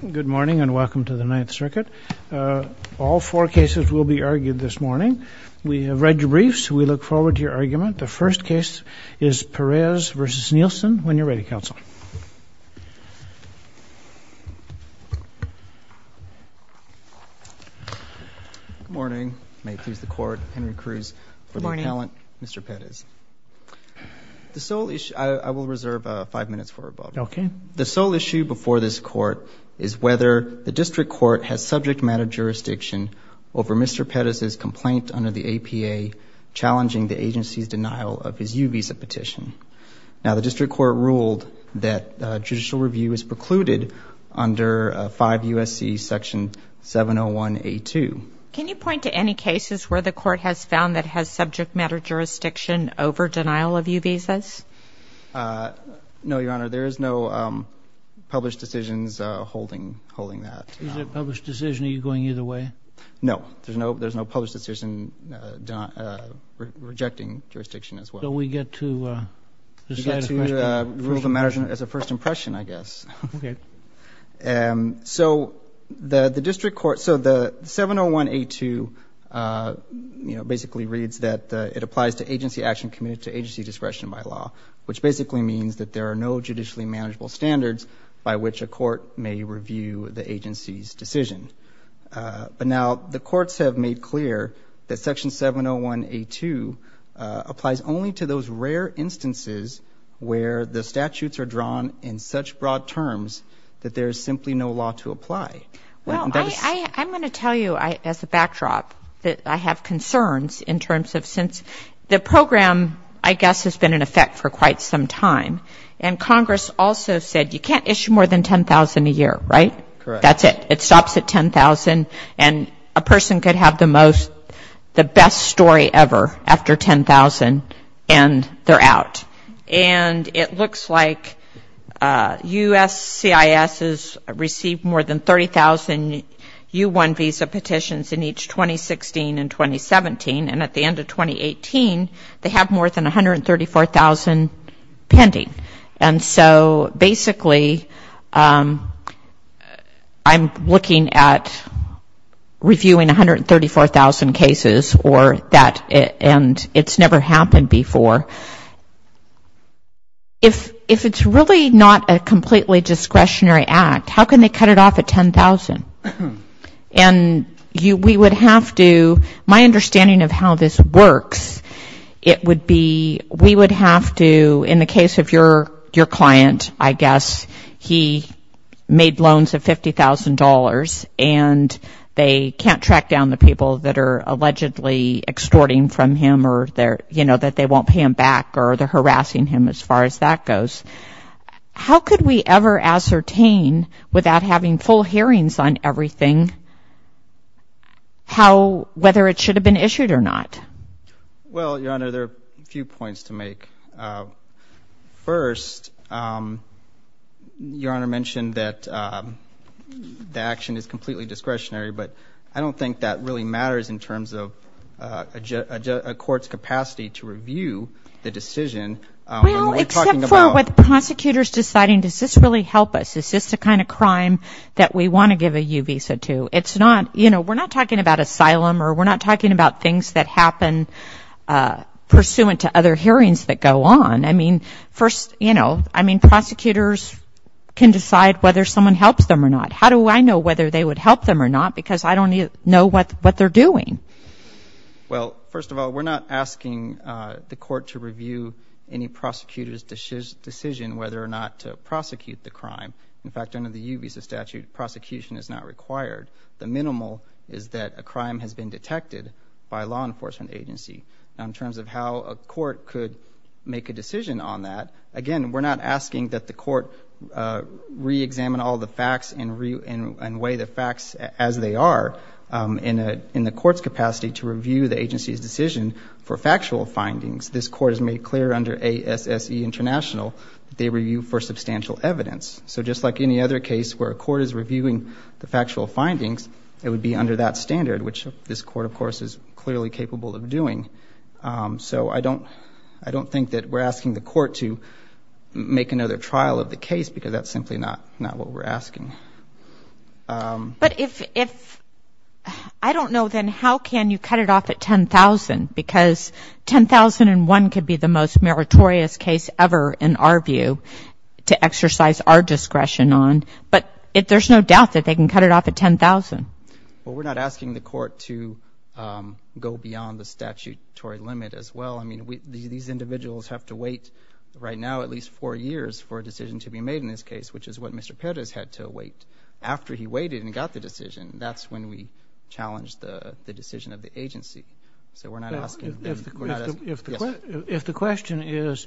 Good morning and welcome to the Ninth Circuit. All four cases will be argued this morning. We have read your briefs. We look forward to your argument. The first case is Perez v. Nielsen. When you're ready, counsel. Good morning. May it please the Court. Henry Cruz for the appellant. Good morning. Mr. Perez. The sole issue... I will reserve five minutes for rebuttal. Okay. The sole issue before this Court is whether the District Court has subject matter jurisdiction over Mr. Perez's complaint under the APA challenging the agency's denial of his U-Visa petition. Now, the District Court ruled that judicial review is precluded under 5 U.S.C. 701A2. Can you point to any cases where the Court has found that has subject matter jurisdiction over denial of U-Visas? No, Your Honor. There is no published decisions holding that. Is it a published decision? Are you going either way? No. There's no published decision rejecting jurisdiction as well. So we get to decide as a first impression. We get to rule the matter as a first impression, I guess. Okay. So the District Court... So the 701A2 basically reads that it applies to agency action committed to agency discretion by law, which basically means that there are no judicially manageable standards by which a court may review the agency's decision. But now the courts have made clear that Section 701A2 applies only to those rare instances where the statutes are drawn in such broad terms that there is simply no law to apply. Well, I'm going to tell you as a backdrop that I have concerns in terms of since the program, I guess, has been in effect for quite some time. And Congress also said you can't issue more than $10,000 a year, right? Correct. That's it. It stops at $10,000, and a person could have the best story ever after $10,000, and they're out. And it looks like USCIS has received more than 30,000 U-1 visa petitions in each 2016 and 2017, and at the end of 2018, they have more than 134,000 pending. And so basically I'm looking at reviewing 134,000 cases or that, and it's never happened before. If it's really not a completely discretionary act, how can they cut it off at $10,000? And we would have to, my understanding of how this works, it would be we would have to, in the case of your client, I guess, he made loans of $50,000, and they can't track down the people that are allegedly extorting from him or that they won't pay him back or they're harassing him as far as that goes. How could we ever ascertain without having full hearings on everything whether it should have been issued or not? Well, Your Honor, there are a few points to make. First, Your Honor mentioned that the action is completely discretionary, but I don't think that really matters in terms of a court's capacity to review the decision. Well, except for with prosecutors deciding, does this really help us? Is this the kind of crime that we want to give a U visa to? It's not, you know, we're not talking about asylum or we're not talking about things that happen pursuant to other hearings that go on. I mean, first, you know, I mean, prosecutors can decide whether someone helps them or not. How do I know whether they would help them or not? Because I don't know what they're doing. Well, first of all, we're not asking the court to review any prosecutor's decision whether or not to prosecute the crime. In fact, under the U visa statute, prosecution is not required. The minimal is that a crime has been detected by a law enforcement agency. In terms of how a court could make a decision on that, again, we're not asking that the court reexamine all the facts and weigh the facts as they are in the court's capacity to review the agency's decision for factual findings. This court has made clear under ASSE International that they review for substantial evidence. So just like any other case where a court is reviewing the factual findings, it would be under that standard, which this court, of course, is clearly capable of doing. So I don't think that we're asking the court to make another trial of the case because that's simply not what we're asking. But if I don't know, then how can you cut it off at $10,000? Because $10,001 could be the most meritorious case ever, in our view, to exercise our discretion on. But there's no doubt that they can cut it off at $10,000. Well, we're not asking the court to go beyond the statutory limit as well. I mean, these individuals have to wait right now at least four years for a decision to be made in this case, which is what Mr. Perez had to wait after he waited and got the decision. That's when we challenge the decision of the agency. So we're not asking. If the question is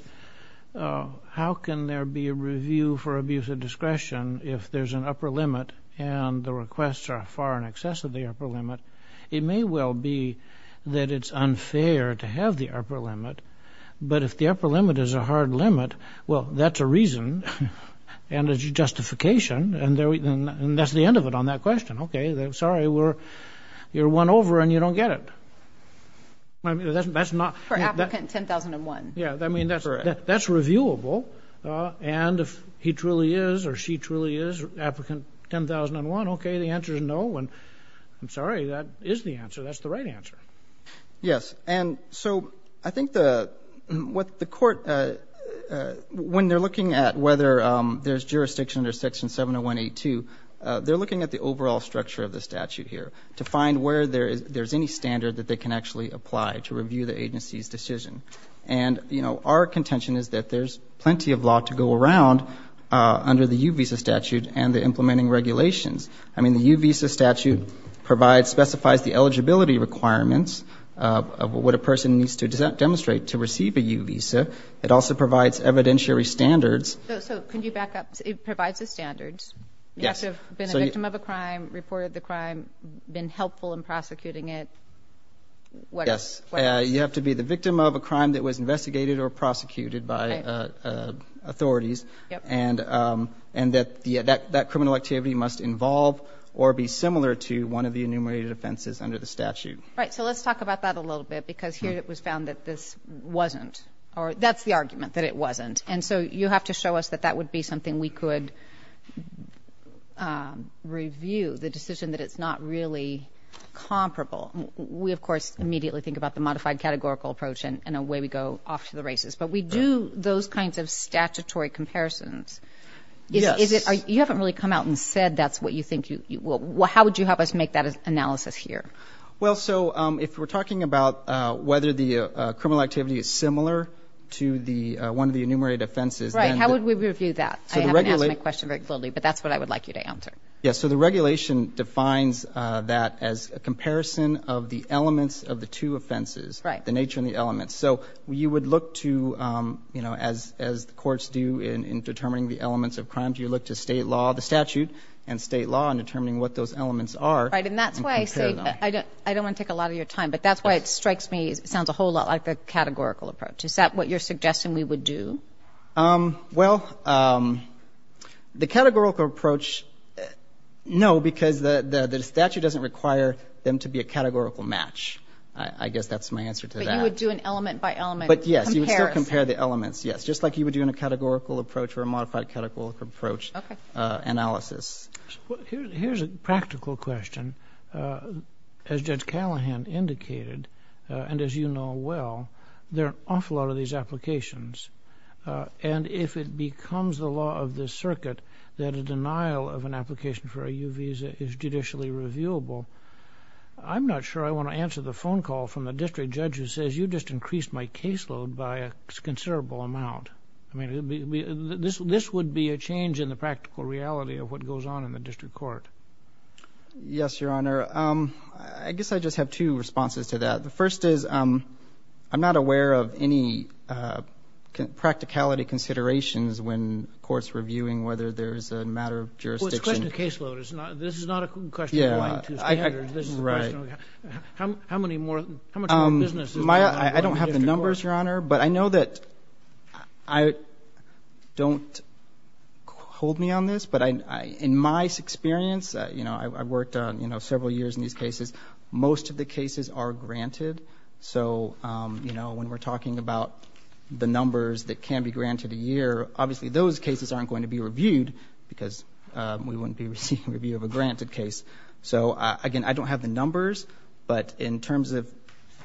how can there be a review for abuse of discretion if there's an upper limit and the requests are far in excess of the upper limit, it may well be that it's unfair to have the upper limit. But if the upper limit is a hard limit, well, that's a reason and a justification, and that's the end of it on that question. Okay, sorry, you're won over and you don't get it. For applicant $10,001. Yeah, I mean, that's reviewable. And if he truly is or she truly is applicant $10,001, okay, the answer is no. I'm sorry, that is the answer. That's the right answer. Yes. And so I think what the court, when they're looking at whether there's jurisdiction under Section 701A2, they're looking at the overall structure of the statute here to find where there's any standard that they can actually apply to review the agency's decision. And, you know, our contention is that there's plenty of law to go around under the U visa statute and the implementing regulations. I mean, the U visa statute provides, specifies the eligibility requirements of what a person needs to demonstrate to receive a U visa. It also provides evidentiary standards. So could you back up? It provides the standards. You have to have been a victim of a crime, reported the crime, been helpful in prosecuting it. Yes. You have to be the victim of a crime that was investigated or prosecuted by authorities, and that criminal activity must involve or be similar to one of the enumerated offenses under the statute. Right. So let's talk about that a little bit because here it was found that this wasn't, or that's the argument, that it wasn't. And so you have to show us that that would be something we could review, the decision that it's not really comparable. We, of course, immediately think about the modified categorical approach, and away we go off to the races. But we do those kinds of statutory comparisons. Yes. You haven't really come out and said that's what you think you will. How would you help us make that analysis here? Well, so if we're talking about whether the criminal activity is similar to one of the enumerated offenses. Right. How would we review that? I haven't asked my question very clearly, but that's what I would like you to answer. Yes. So the regulation defines that as a comparison of the elements of the two offenses. Right. The nature and the elements. So you would look to, as the courts do in determining the elements of crimes, you look to state law, the statute, and state law in determining what those elements are. Right. And that's why I say I don't want to take a lot of your time, but that's why it strikes me, it sounds a whole lot like the categorical approach. Is that what you're suggesting we would do? Well, the categorical approach, no, because the statute doesn't require them to be a categorical match. I guess that's my answer to that. But you would do an element by element comparison. But, yes, you would still compare the elements, yes, just like you would do in a categorical approach or a modified categorical approach analysis. Here's a practical question. As Judge Callahan indicated, and as you know well, there are an awful lot of these applications. And if it becomes the law of the circuit that a denial of an application for a U visa is judicially reviewable, I'm not sure I want to answer the phone call from the district judge who says, you just increased my caseload by a considerable amount. I mean, this would be a change in the practical reality of what goes on in the district court. Yes, Your Honor. I guess I just have two responses to that. The first is I'm not aware of any practicality considerations when courts reviewing whether there is a matter of jurisdiction. Well, it's a question of caseload. This is not a question of going to standards. I don't have the numbers, Your Honor, but I know that I don't hold me on this, but in my experience, you know, I worked several years in these cases. Most of the cases are granted. So, you know, when we're talking about the numbers that can be granted a year, obviously those cases aren't going to be reviewed because we wouldn't be receiving a review of a granted case. So, again, I don't have the numbers, but in terms of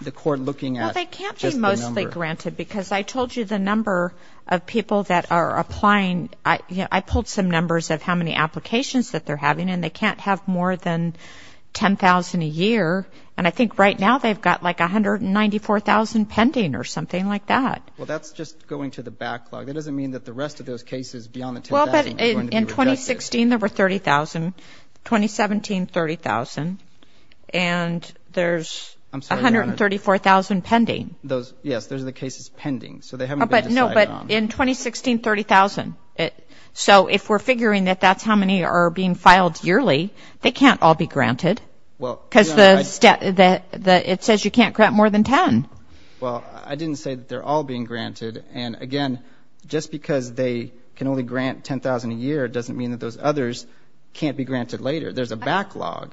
the court looking at just the number. Well, they can't be mostly granted because I told you the number of people that are applying, I pulled some numbers of how many applications that they're having, and they can't have more than 10,000 a year, and I think right now they've got like 194,000 pending or something like that. Well, that's just going to the backlog. That doesn't mean that the rest of those cases beyond the 10,000 are going to be rejected. In 2016, there were 30,000. In 2017, 30,000. And there's 134,000 pending. Yes, those are the cases pending. So they haven't been decided on. No, but in 2016, 30,000. So if we're figuring that that's how many are being filed yearly, they can't all be granted. Because it says you can't grant more than 10. Well, I didn't say that they're all being granted. And, again, just because they can only grant 10,000 a year doesn't mean that those others can't be granted later. There's a backlog.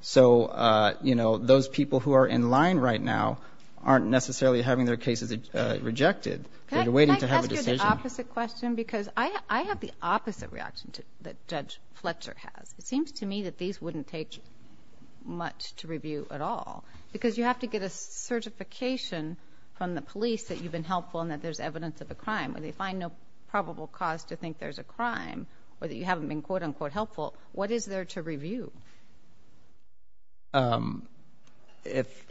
So, you know, those people who are in line right now aren't necessarily having their cases rejected. They're waiting to have a decision. Can I ask you the opposite question? Because I have the opposite reaction that Judge Fletcher has. It seems to me that these wouldn't take much to review at all. Because you have to get a certification from the police that you've been helpful and that there's evidence of a crime. When they find no probable cause to think there's a crime or that you haven't been, quote, unquote, helpful, what is there to review? If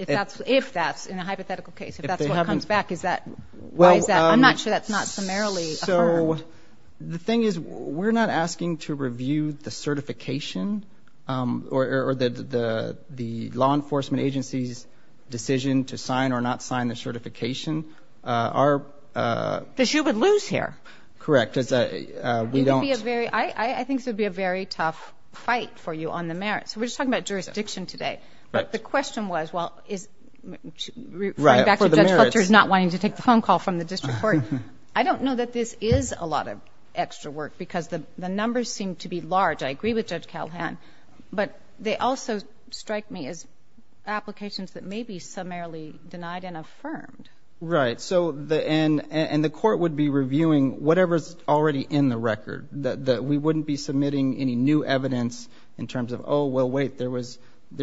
that's in a hypothetical case, if that's what comes back, is that why is that? I'm not sure that's not summarily affirmed. So the thing is we're not asking to review the certification or the law enforcement agency's decision to sign or not sign the certification. Because you would lose here. Correct. We don't. I think this would be a very tough fight for you on the merits. We're just talking about jurisdiction today. But the question was, well, referring back to Judge Fletcher's not wanting to take the phone call from the district court. I don't know that this is a lot of extra work because the numbers seem to be large. I agree with Judge Calhoun. But they also strike me as applications that may be summarily denied and affirmed. Right. And the court would be reviewing whatever's already in the record. We wouldn't be submitting any new evidence in terms of, oh, well, wait, there's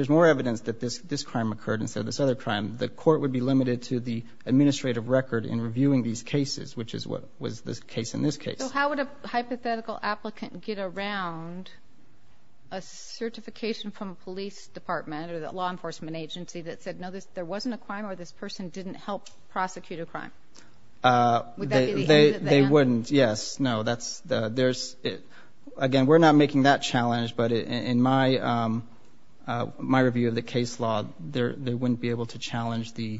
more evidence that this crime occurred instead of this other crime. The court would be limited to the administrative record in reviewing these cases, which is what was the case in this case. So how would a hypothetical applicant get around a certification from a police department or the law enforcement agency that said, no, there wasn't a crime or this person didn't help prosecute a crime? Would that be the end of the game? They wouldn't. Yes. No. Again, we're not making that challenge, but in my review of the case law, they wouldn't be able to challenge the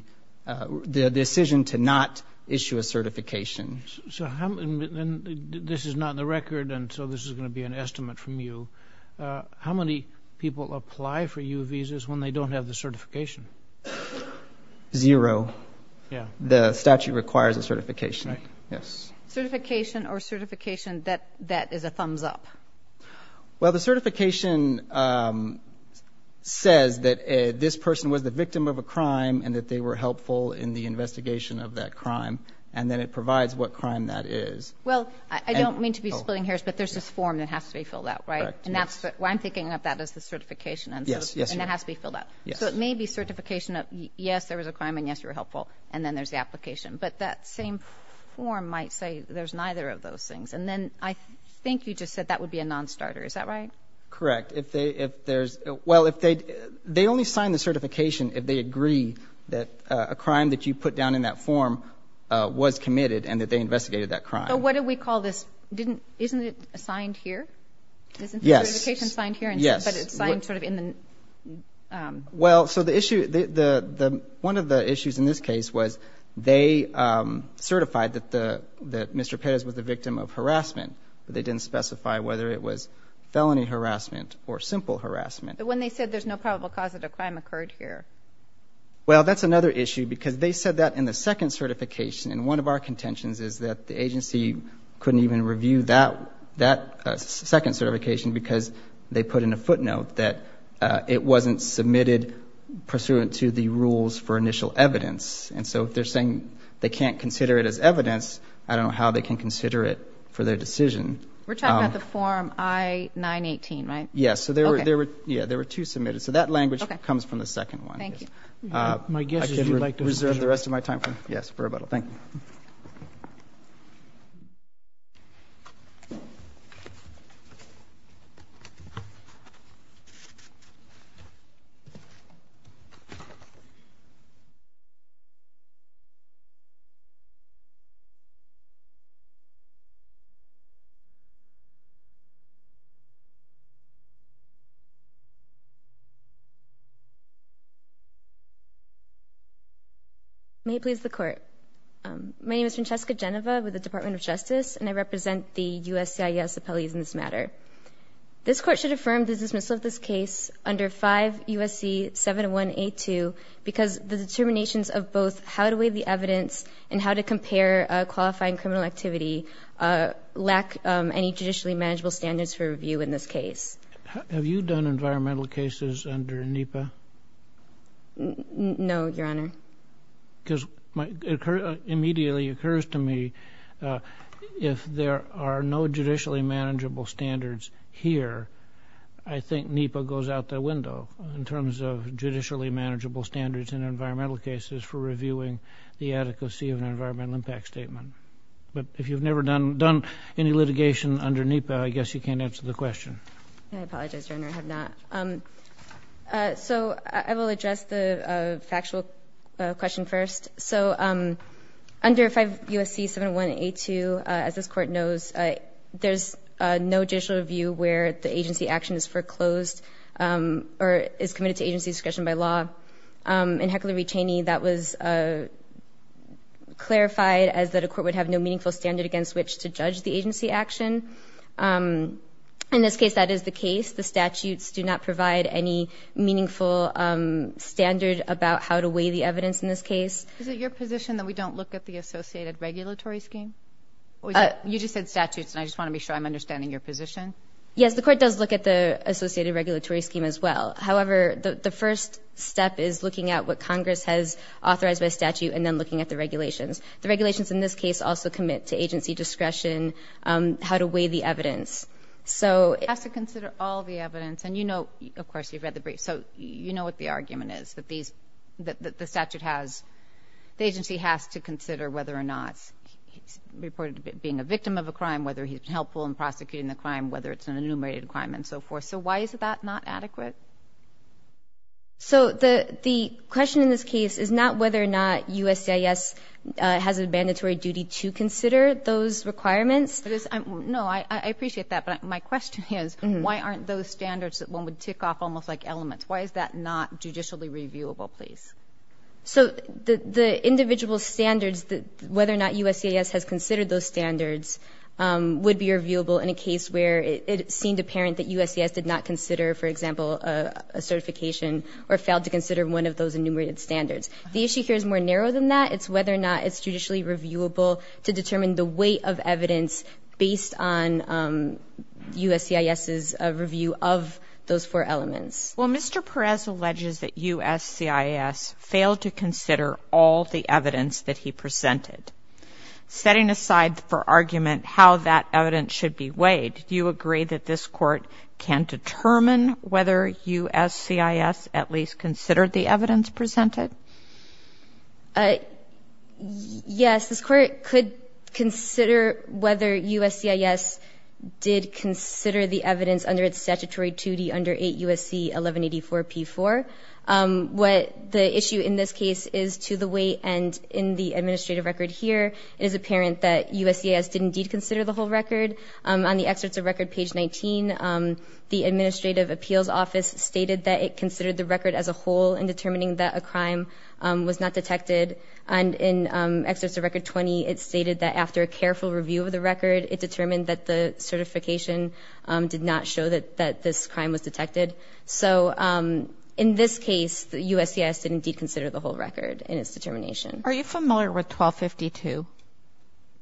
decision to not issue a certification. So this is not in the record, and so this is going to be an estimate from you. How many people apply for U visas when they don't have the certification? Zero. Yeah. The statute requires a certification. Yes. Certification or certification that is a thumbs up? Well, the certification says that this person was the victim of a crime and that they were helpful in the investigation of that crime, and then it provides what crime that is. Well, I don't mean to be splitting hairs, but there's this form that has to be filled out, right? Correct. And that's what I'm thinking of that as the certification. Yes. And that has to be filled out. Yes. So it may be certification of, yes, there was a crime and, yes, you were helpful, and then there's the application. But that same form might say there's neither of those things. And then I think you just said that would be a nonstarter. Is that right? Correct. Well, they only sign the certification if they agree that a crime that you put down in that form was committed and that they investigated that crime. So what do we call this? Isn't it assigned here? Yes. Isn't the certification signed here? Yes. But it's signed sort of in the – Well, so the issue – one of the issues in this case was they certified that Mr. Perez was the victim of harassment, but they didn't specify whether it was felony harassment or simple harassment. But when they said there's no probable cause that a crime occurred here. Well, that's another issue because they said that in the second certification, and one of our contentions is that the agency couldn't even review that second certification because they put in a footnote that it wasn't submitted pursuant to the rules for initial evidence. And so if they're saying they can't consider it as evidence, I don't know how they can consider it for their decision. We're talking about the form I-918, right? Yes. So there were two submitted. So that language comes from the second one. Thank you. My guess is you'd like to reserve the rest of my time for – yes, for rebuttal. Thank you. Thank you. May it please the Court. My name is Francesca Genova with the Department of Justice, and I represent the USCIS appellees in this matter. This Court should affirm the dismissal of this case under 5 U.S.C. 7182 because the determinations of both how to weigh the evidence and how to compare qualifying criminal activity lack any judicially manageable standards for review in this case. Have you done environmental cases under NEPA? No, Your Honor. Because it immediately occurs to me if there are no judicially manageable standards here, I think NEPA goes out the window in terms of judicially manageable standards in environmental cases for reviewing the adequacy of an environmental impact statement. But if you've never done any litigation under NEPA, I guess you can't answer the question. I apologize, Your Honor. I have not. So I will address the factual question first. So under 5 U.S.C. 7182, as this Court knows, there's no judicial review where the agency action is foreclosed or is committed to agency discretion by law. In Heckler v. Cheney, that was clarified as that a court would have no meaningful standard against which to judge the agency action. In this case, that is the case. The statutes do not provide any meaningful standard about how to weigh the evidence in this case. Is it your position that we don't look at the associated regulatory scheme? You just said statutes, and I just want to be sure I'm understanding your position. Yes, the Court does look at the associated regulatory scheme as well. However, the first step is looking at what Congress has authorized by statute and then looking at the regulations. The regulations in this case also commit to agency discretion, how to weigh the evidence. It has to consider all the evidence. And you know, of course, you've read the brief, so you know what the argument is, that the statute has the agency has to consider whether or not he's reported being a victim of a crime, whether he's helpful in prosecuting the crime, whether it's an enumerated crime, and so forth. So why is that not adequate? So the question in this case is not whether or not USCIS has a mandatory duty to consider those requirements. No, I appreciate that, but my question is, why aren't those standards that one would tick off almost like elements? Why is that not judicially reviewable, please? So the individual standards, whether or not USCIS has considered those standards, would be reviewable in a case where it seemed apparent that USCIS did not consider, for example, a certification or failed to consider one of those enumerated standards. The issue here is more narrow than that. It's whether or not it's judicially reviewable to determine the weight of evidence based on USCIS's review of those four elements. Well, Mr. Perez alleges that USCIS failed to consider all the evidence that he presented. Setting aside for argument how that evidence should be weighed, do you agree that this Court can determine whether USCIS at least considered the evidence presented? Yes, this Court could consider whether USCIS did consider the evidence under its statutory duty under 8 U.S.C. 1184-P4. What the issue in this case is to the weight, and in the administrative record here, it is apparent that USCIS did indeed consider the whole record. On the excerpts of record page 19, the administrative appeals office stated that it considered the record as a whole in determining that a crime was not detected. And in excerpts of record 20, it stated that after a careful review of the record, it determined that the certification did not show that this crime was detected. So in this case, USCIS did indeed consider the whole record in its determination. Are you familiar with 1252?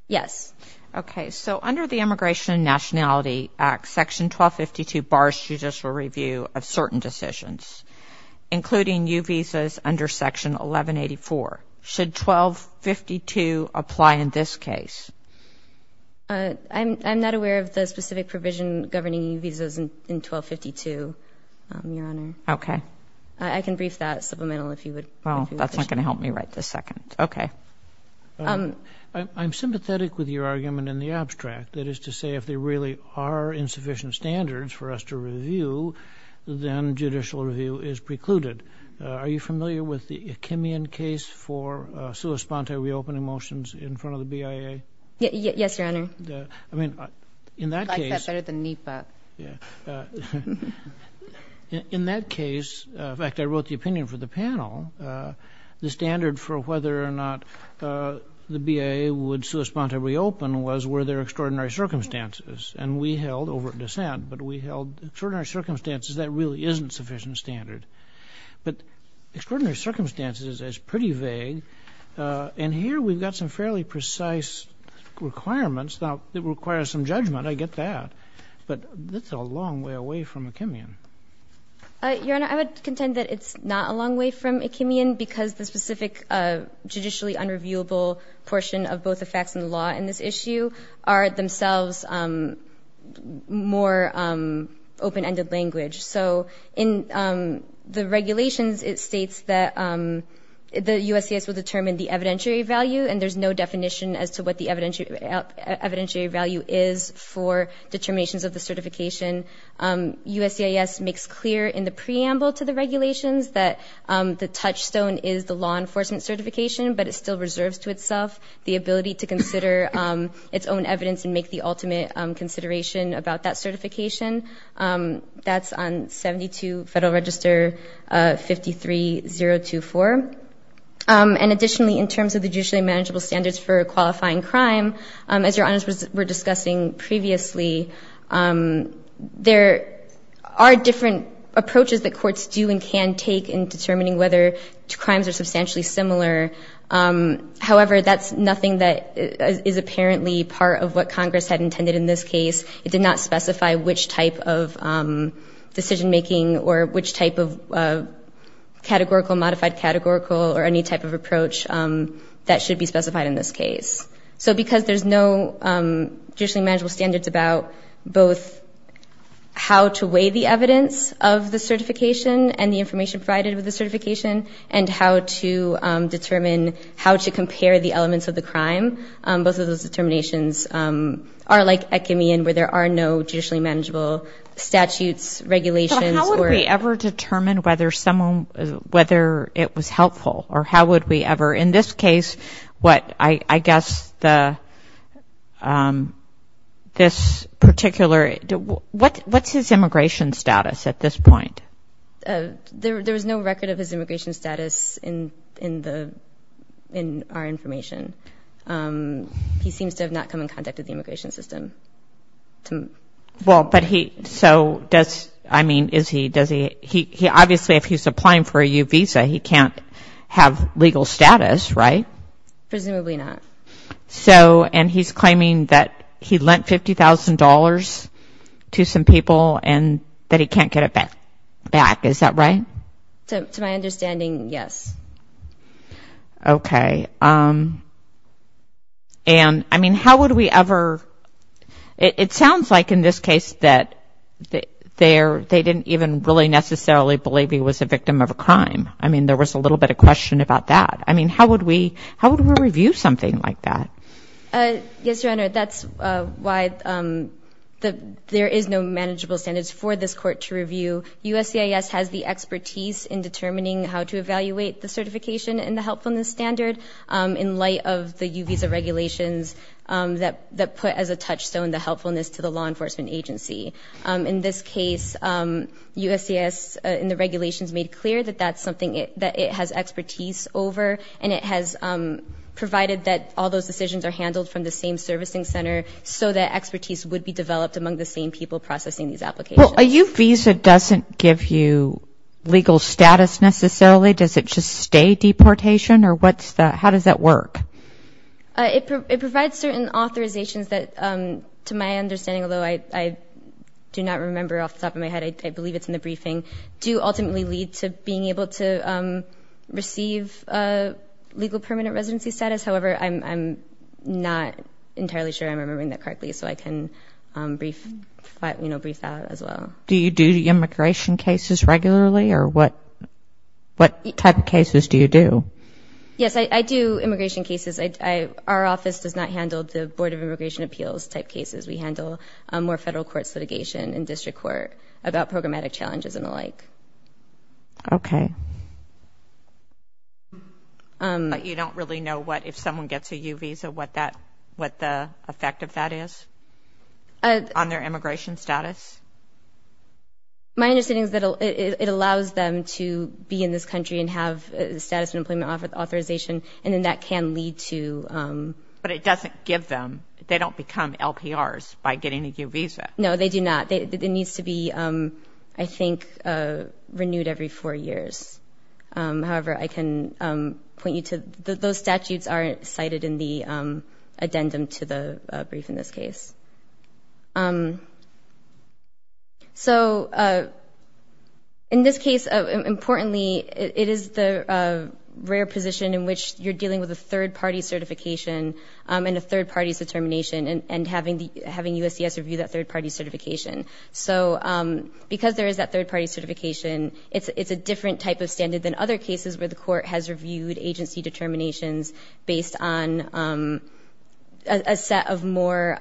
Yes. Okay, so under the Immigration and Nationality Act, Section 1252 bars judicial review of certain decisions, including U visas under Section 1184. Should 1252 apply in this case? I'm not aware of the specific provision governing U visas in 1252, Your Honor. Okay. I can brief that supplemental if you would wish to. Well, that's not going to help me write this second. Okay. I'm sympathetic with your argument in the abstract, that is to say, if there really are insufficient standards for us to review, then judicial review is precluded. Are you familiar with the Achimian case for sua sponte reopening motions in front of the BIA? Yes, Your Honor. I mean, in that case. I like that better than NEPA. Yeah. In that case, in fact, I wrote the opinion for the panel. The standard for whether or not the BIA would sua sponte reopen was were there extraordinary circumstances. And we held, over at dissent, but we held extraordinary circumstances that really isn't sufficient standard. But extraordinary circumstances is pretty vague. And here we've got some fairly precise requirements that require some judgment. I get that. But that's a long way away from Achimian. Your Honor, I would contend that it's not a long way from Achimian, because the specific judicially unreviewable portion of both the facts and the law in this issue are themselves more open-ended language. So in the regulations, it states that the USCIS will determine the evidentiary value, and there's no definition as to what the evidentiary value is for determinations of the certification. USCIS makes clear in the preamble to the regulations that the touchstone is the law enforcement certification, but it still reserves to itself the ability to consider its own evidence and make the ultimate consideration about that certification. That's on 72 Federal Register 53024. And additionally, in terms of the judicially manageable standards for qualifying crime, as Your Honors were discussing previously, there are different approaches that courts do and can take in determining whether crimes are substantially similar. However, that's nothing that is apparently part of what Congress had intended in this case. It did not specify which type of decision-making or which type of categorical, modified categorical or any type of approach that should be specified in this case. So because there's no judicially manageable standards about both how to weigh the evidence of the certification and the information provided with the certification and how to determine how to compare the elements of the crime, both of those determinations are like ecumene where there are no judicially manageable statutes, regulations. But how would we ever determine whether someone, whether it was helpful or how would we ever, in this case, what I guess this particular, what's his immigration status at this point? There was no record of his immigration status in our information. He seems to have not come in contact with the immigration system. Well, but he, so does, I mean, is he, does he, he obviously, if he's applying for a U visa, he can't have legal status, right? Presumably not. So, and he's claiming that he lent $50,000 to some people and that he can't get it back, is that right? To my understanding, yes. Okay. And, I mean, how would we ever, it sounds like in this case that they're, they didn't even really necessarily believe he was a victim of a crime. I mean, there was a little bit of question about that. I mean, how would we, how would we review something like that? Yes, Your Honor, that's why there is no manageable standards for this court to review. USCIS has the expertise in determining how to evaluate the certification and the helpfulness standard in light of the U visa regulations that put as a touchstone the helpfulness to the law enforcement agency. In this case, USCIS in the regulations made clear that that's something that it has expertise over and it has provided that all those decisions are handled from the same servicing center so that expertise would be developed among the same people processing these applications. Well, a U visa doesn't give you legal status necessarily. Does it just stay deportation or what's the, how does that work? It provides certain authorizations that to my understanding, although I do not remember off the top of my head, I believe it's in the briefing, do ultimately lead to being able to receive legal permanent residency status. However, I'm not entirely sure I'm remembering that correctly so I can brief, you know, brief that as well. Do you do immigration cases regularly or what type of cases do you do? Yes, I do immigration cases. Our office does not handle the Board of Immigration Appeals type cases. We handle more federal courts litigation and district court about programmatic challenges and the like. Okay. But you don't really know what, if someone gets a U visa, what the effect of that is on their immigration status? My understanding is that it allows them to be in this country and have status and employment authorization and then that can lead to... But it doesn't give them, they don't become LPRs by getting a U visa. No, they do not. It needs to be, I think, renewed every four years. However, I can point you to, those statutes are cited in the addendum to the brief in this case. So in this case, importantly, it is the rare position in which you're dealing with a third-party certification and a third-party determination and having USCIS review that third-party certification. So because there is that third-party certification, it's a different type of standard than other cases where the court has reviewed agency determinations based on a set of more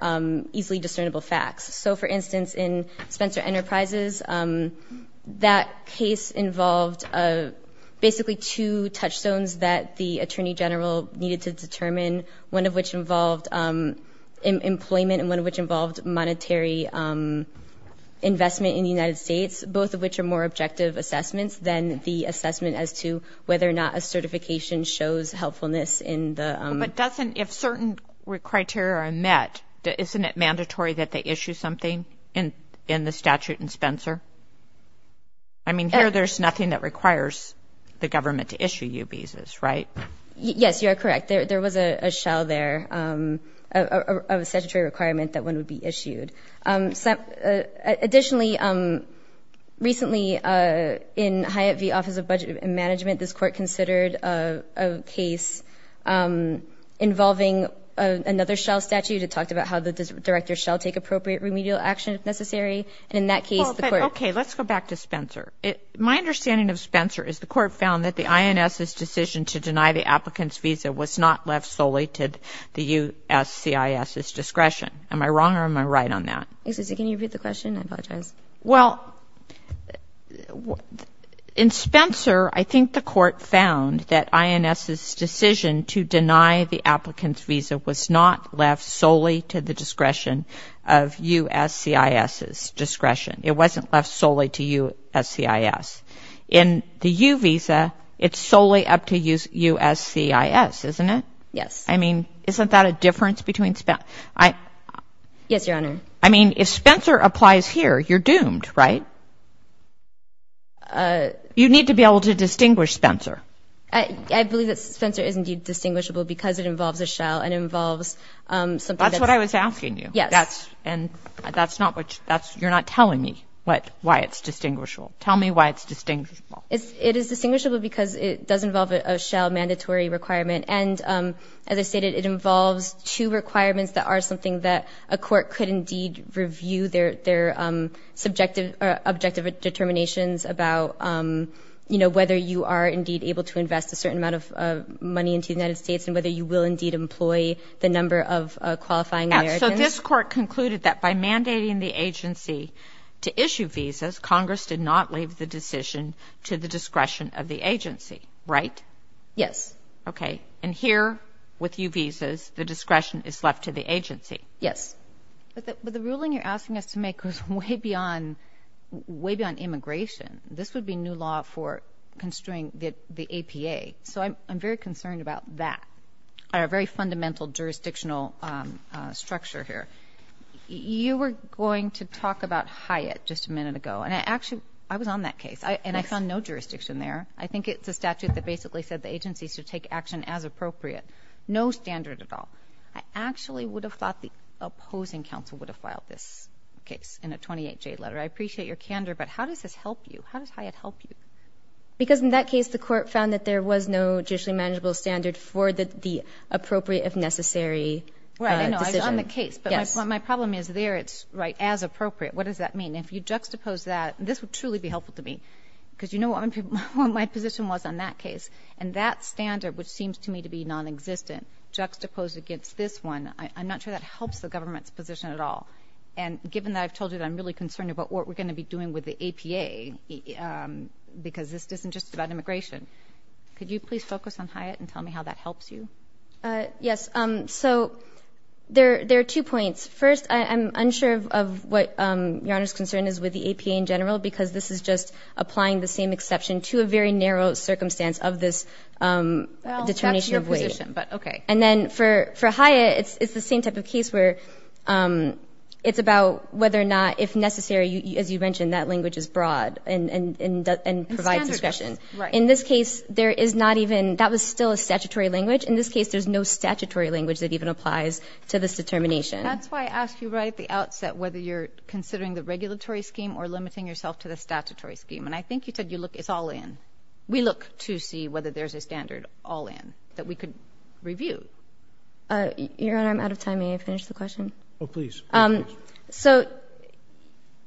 easily discernible facts. So, for instance, in Spencer Enterprises, that case involved basically two touchstones that the attorney general needed to determine, one of which involved employment and one of which involved monetary investment in the United States, both of which are more objective assessments than the assessment as to whether or not a certification shows helpfulness in the... in the statute in Spencer? I mean, here there's nothing that requires the government to issue U visas, right? Yes, you are correct. There was a shell there of a statutory requirement that one would be issued. Additionally, recently in Hyatt v. Office of Budget and Management, this court considered a case involving another shell statute. It talked about how the director shall take appropriate remedial action if necessary. In that case, the court... Okay, let's go back to Spencer. My understanding of Spencer is the court found that the INS's decision to deny the applicant's visa was not left solely to the USCIS's discretion. Am I wrong or am I right on that? Excuse me, can you repeat the question? I apologize. Well, in Spencer, I think the court found that INS's decision to deny the applicant's visa was not left solely to the discretion of USCIS's discretion. It wasn't left solely to USCIS. In the U visa, it's solely up to USCIS, isn't it? Yes. I mean, isn't that a difference between... Yes, Your Honor. I mean, if Spencer applies here, you're doomed, right? You need to be able to distinguish Spencer. I believe that Spencer is indeed distinguishable because it involves a shell and involves something that's... That's what I was asking you. Yes. And that's not what you're not telling me why it's distinguishable. Tell me why it's distinguishable. It is distinguishable because it does involve a shell mandatory requirement. And as I stated, it involves two requirements that are something that a court could their subjective or objective determinations about, you know, whether you are indeed able to invest a certain amount of money into the United States and whether you will indeed employ the number of qualifying Americans. So this court concluded that by mandating the agency to issue visas, Congress did not leave the decision to the discretion of the agency, right? Yes. Okay. And here, with U visas, the discretion is left to the agency. Yes. But the ruling you're asking us to make goes way beyond immigration. This would be new law for construing the APA. So I'm very concerned about that, our very fundamental jurisdictional structure here. You were going to talk about Hyatt just a minute ago. And actually, I was on that case, and I found no jurisdiction there. I think it's a statute that basically said the agency should take action as appropriate. No standard at all. I actually would have thought the opposing counsel would have filed this case in a 28-J letter. I appreciate your candor, but how does this help you? How does Hyatt help you? Because in that case, the court found that there was no judicially manageable standard for the appropriate, if necessary, decision. Right, I know. I was on the case. But my problem is there it's as appropriate. What does that mean? If you juxtapose that, this would truly be helpful to me because you know what my position was on that case. And that standard, which seems to me to be nonexistent, juxtaposed against this one, I'm not sure that helps the government's position at all. And given that I've told you that I'm really concerned about what we're going to be doing with the APA because this isn't just about immigration, could you please focus on Hyatt and tell me how that helps you? Yes. So there are two points. First, I'm unsure of what Your Honor's concern is with the APA in general because this is just applying the same exception to a very narrow circumstance of this determination of weight. Well, that's your position, but okay. And then for Hyatt, it's the same type of case where it's about whether or not, if necessary, as you mentioned, that language is broad and provides discretion. In this case, there is not even – that was still a statutory language. In this case, there's no statutory language that even applies to this determination. That's why I asked you right at the outset whether you're considering the regulatory scheme or limiting yourself to the statutory scheme. And I think you said you look – it's all in. We look to see whether there's a standard all in that we could review. Your Honor, I'm out of time. May I finish the question? Oh, please. So,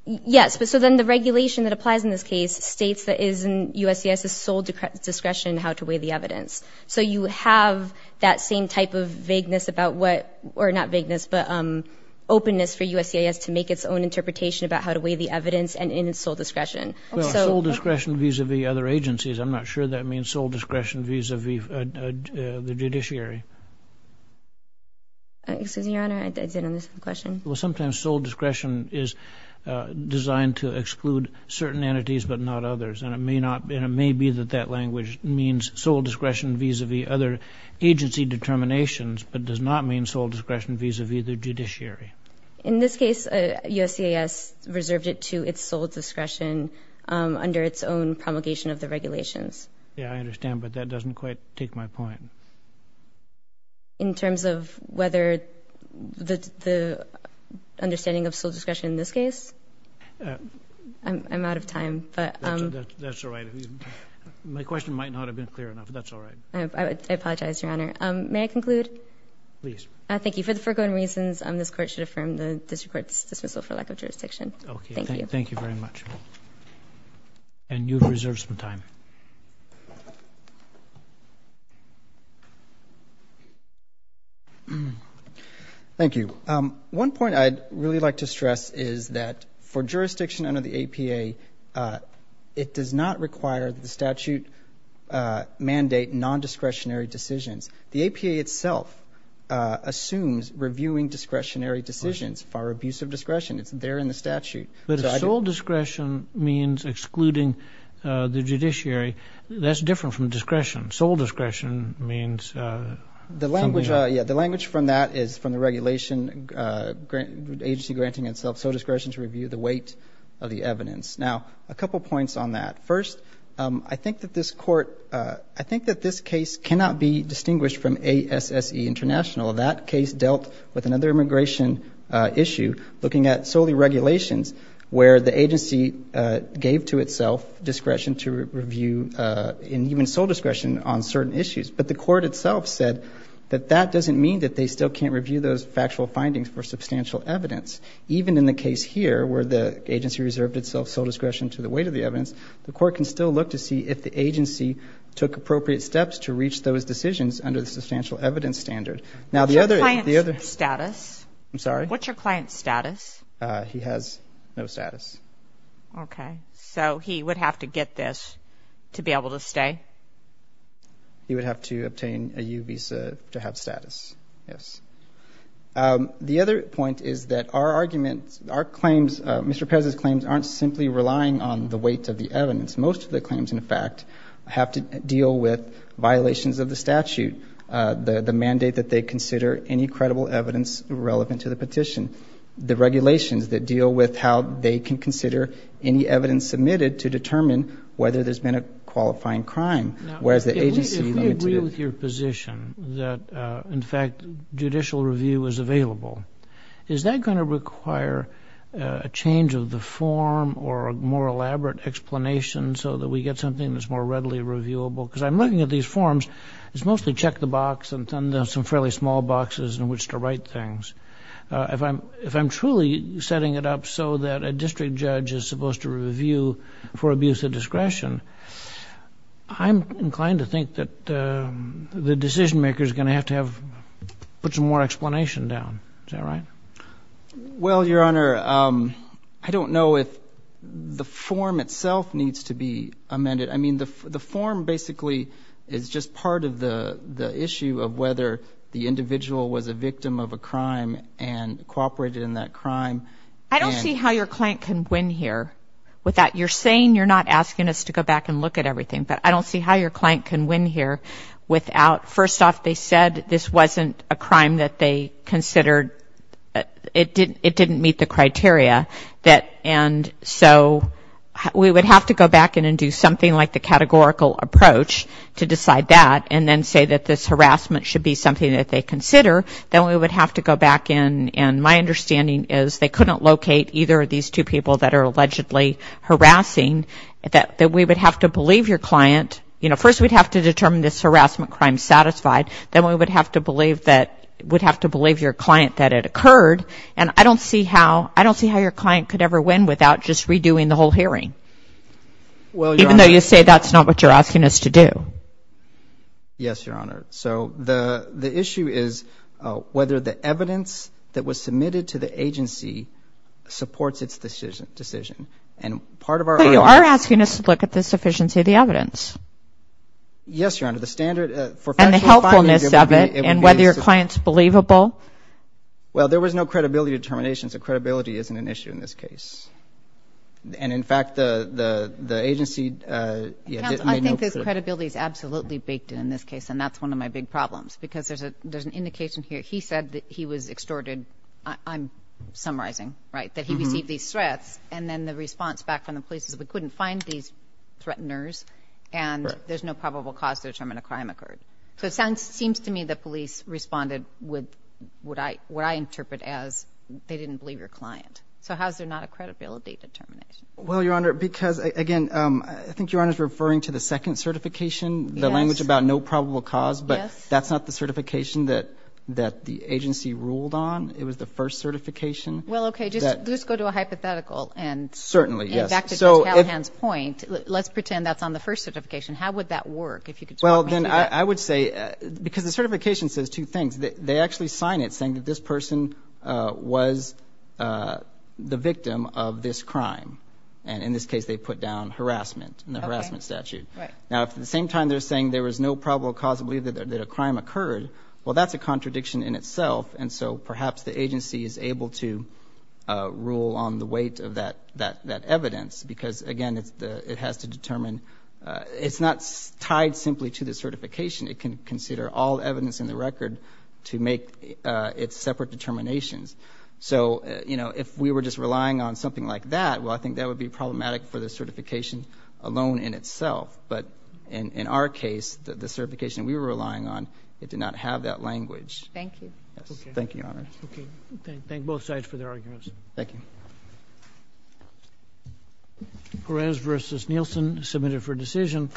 yes. So then the regulation that applies in this case states that it is in USCIS's sole discretion how to weigh the evidence. So you have that same type of vagueness about what – or not vagueness, but openness for USCIS to make its own interpretation about how to weigh the evidence and in its sole discretion. Well, sole discretion vis-a-vis other agencies. I'm not sure that means sole discretion vis-a-vis the judiciary. Excuse me, Your Honor. I didn't understand the question. Well, sometimes sole discretion is designed to exclude certain entities but not others. And it may be that that language means sole discretion vis-a-vis other agency determinations but does not mean sole discretion vis-a-vis the judiciary. In this case, USCIS reserved it to its sole discretion under its own promulgation of the regulations. Yeah, I understand, but that doesn't quite take my point. In terms of whether the understanding of sole discretion in this case? I'm out of time. That's all right. My question might not have been clear enough, but that's all right. I apologize, Your Honor. May I conclude? Please. Thank you. For the foregoing reasons, this Court should affirm the district court's dismissal for lack of jurisdiction. Okay. Thank you. Thank you very much. And you have reserved some time. Thank you. One point I'd really like to stress is that for jurisdiction under the APA, it does not require that the statute mandate nondiscretionary decisions. The APA itself assumes reviewing discretionary decisions for abuse of discretion. It's there in the statute. But if sole discretion means excluding the judiciary, that's different from discretion. Sole discretion means something else. The language from that is from the regulation, agency granting itself sole discretion to review the weight of the evidence. Now, a couple points on that. First, I think that this case cannot be distinguished from ASSE International. That case dealt with another immigration issue, looking at solely regulations, where the agency gave to itself discretion to review and even sole discretion on certain issues. But the court itself said that that doesn't mean that they still can't review those factual findings for substantial evidence. Even in the case here, where the agency reserved itself sole discretion to the weight of the evidence, the court can still look to see if the agency took appropriate steps to reach those decisions under the substantial evidence standard. Now, the other ‑‑ What's your client's status? I'm sorry? What's your client's status? He has no status. Okay. So he would have to get this to be able to stay? He would have to obtain a U visa to have status, yes. The other point is that our arguments, our claims, Mr. Perez's claims, aren't simply relying on the weight of the evidence. Most of the claims, in fact, have to deal with violations of the statute, the mandate that they consider any credible evidence relevant to the petition, the regulations that deal with how they can consider any evidence submitted to determine whether there's been a qualifying crime. Now, if we agree with your position that, in fact, judicial review is available, is that going to require a change of the form or a more elaborate explanation so that we get something that's more readily reviewable? Because I'm looking at these forms. It's mostly check the box and some fairly small boxes in which to write things. If I'm truly setting it up so that a district judge is supposed to review for abuse of discretion, I'm inclined to think that the decision maker is going to have to put some more explanation down. Is that right? Well, Your Honor, I don't know if the form itself needs to be amended. I mean, the form basically is just part of the issue of whether the individual was a victim of a crime and cooperated in that crime. I don't see how your client can win here. You're saying you're not asking us to go back and look at everything, but I don't see how your client can win here without, first off, they said this wasn't a crime that they considered, it didn't meet the criteria, and so we would have to go back in and do something like the categorical approach to decide that and then say that this harassment should be something that they consider. Then we would have to go back in, and my understanding is they couldn't locate either of these two people that are allegedly harassing, that we would have to believe your client. You know, first we'd have to determine this harassment crime satisfied. Then we would have to believe that, would have to believe your client that it occurred. And I don't see how your client could ever win without just redoing the whole hearing, even though you say that's not what you're asking us to do. Yes, Your Honor. So the issue is whether the evidence that was submitted to the agency supports its decision. But you are asking us to look at the sufficiency of the evidence. Yes, Your Honor. And the helpfulness of it, and whether your client's believable. Well, there was no credibility determinations, so credibility isn't an issue in this case. And, in fact, the agency made no clear. I think the credibility is absolutely baked in in this case, and that's one of my big problems, because there's an indication here. He said that he was extorted. I'm summarizing, right, that he received these threats, and then the response back from the police is we couldn't find these threateners, and there's no probable cause to determine a crime occurred. So it seems to me the police responded with what I interpret as they didn't believe your client. So how is there not a credibility determination? Well, Your Honor, because, again, I think Your Honor is referring to the second certification, the language about no probable cause, but that's not the certification that the agency ruled on. It was the first certification. Well, okay, just go to a hypothetical, and back to Mr. Callahan's point. Let's pretend that's on the first certification. How would that work? Well, then I would say, because the certification says two things. They actually sign it saying that this person was the victim of this crime, and in this case they put down harassment in the harassment statute. Now, at the same time they're saying there was no probable cause to believe that a crime occurred, well, that's a contradiction in itself, and so perhaps the agency is able to rule on the weight of that evidence because, again, it has to determine it's not tied simply to the certification. It can consider all evidence in the record to make its separate determinations. So, you know, if we were just relying on something like that, well, I think that would be problematic for the certification alone in itself. But in our case, the certification we were relying on, it did not have that language. Thank you. Thank you, Your Honor. Okay. Thank both sides for their arguments. Thank you. Perez v. Nielsen submitted for decision.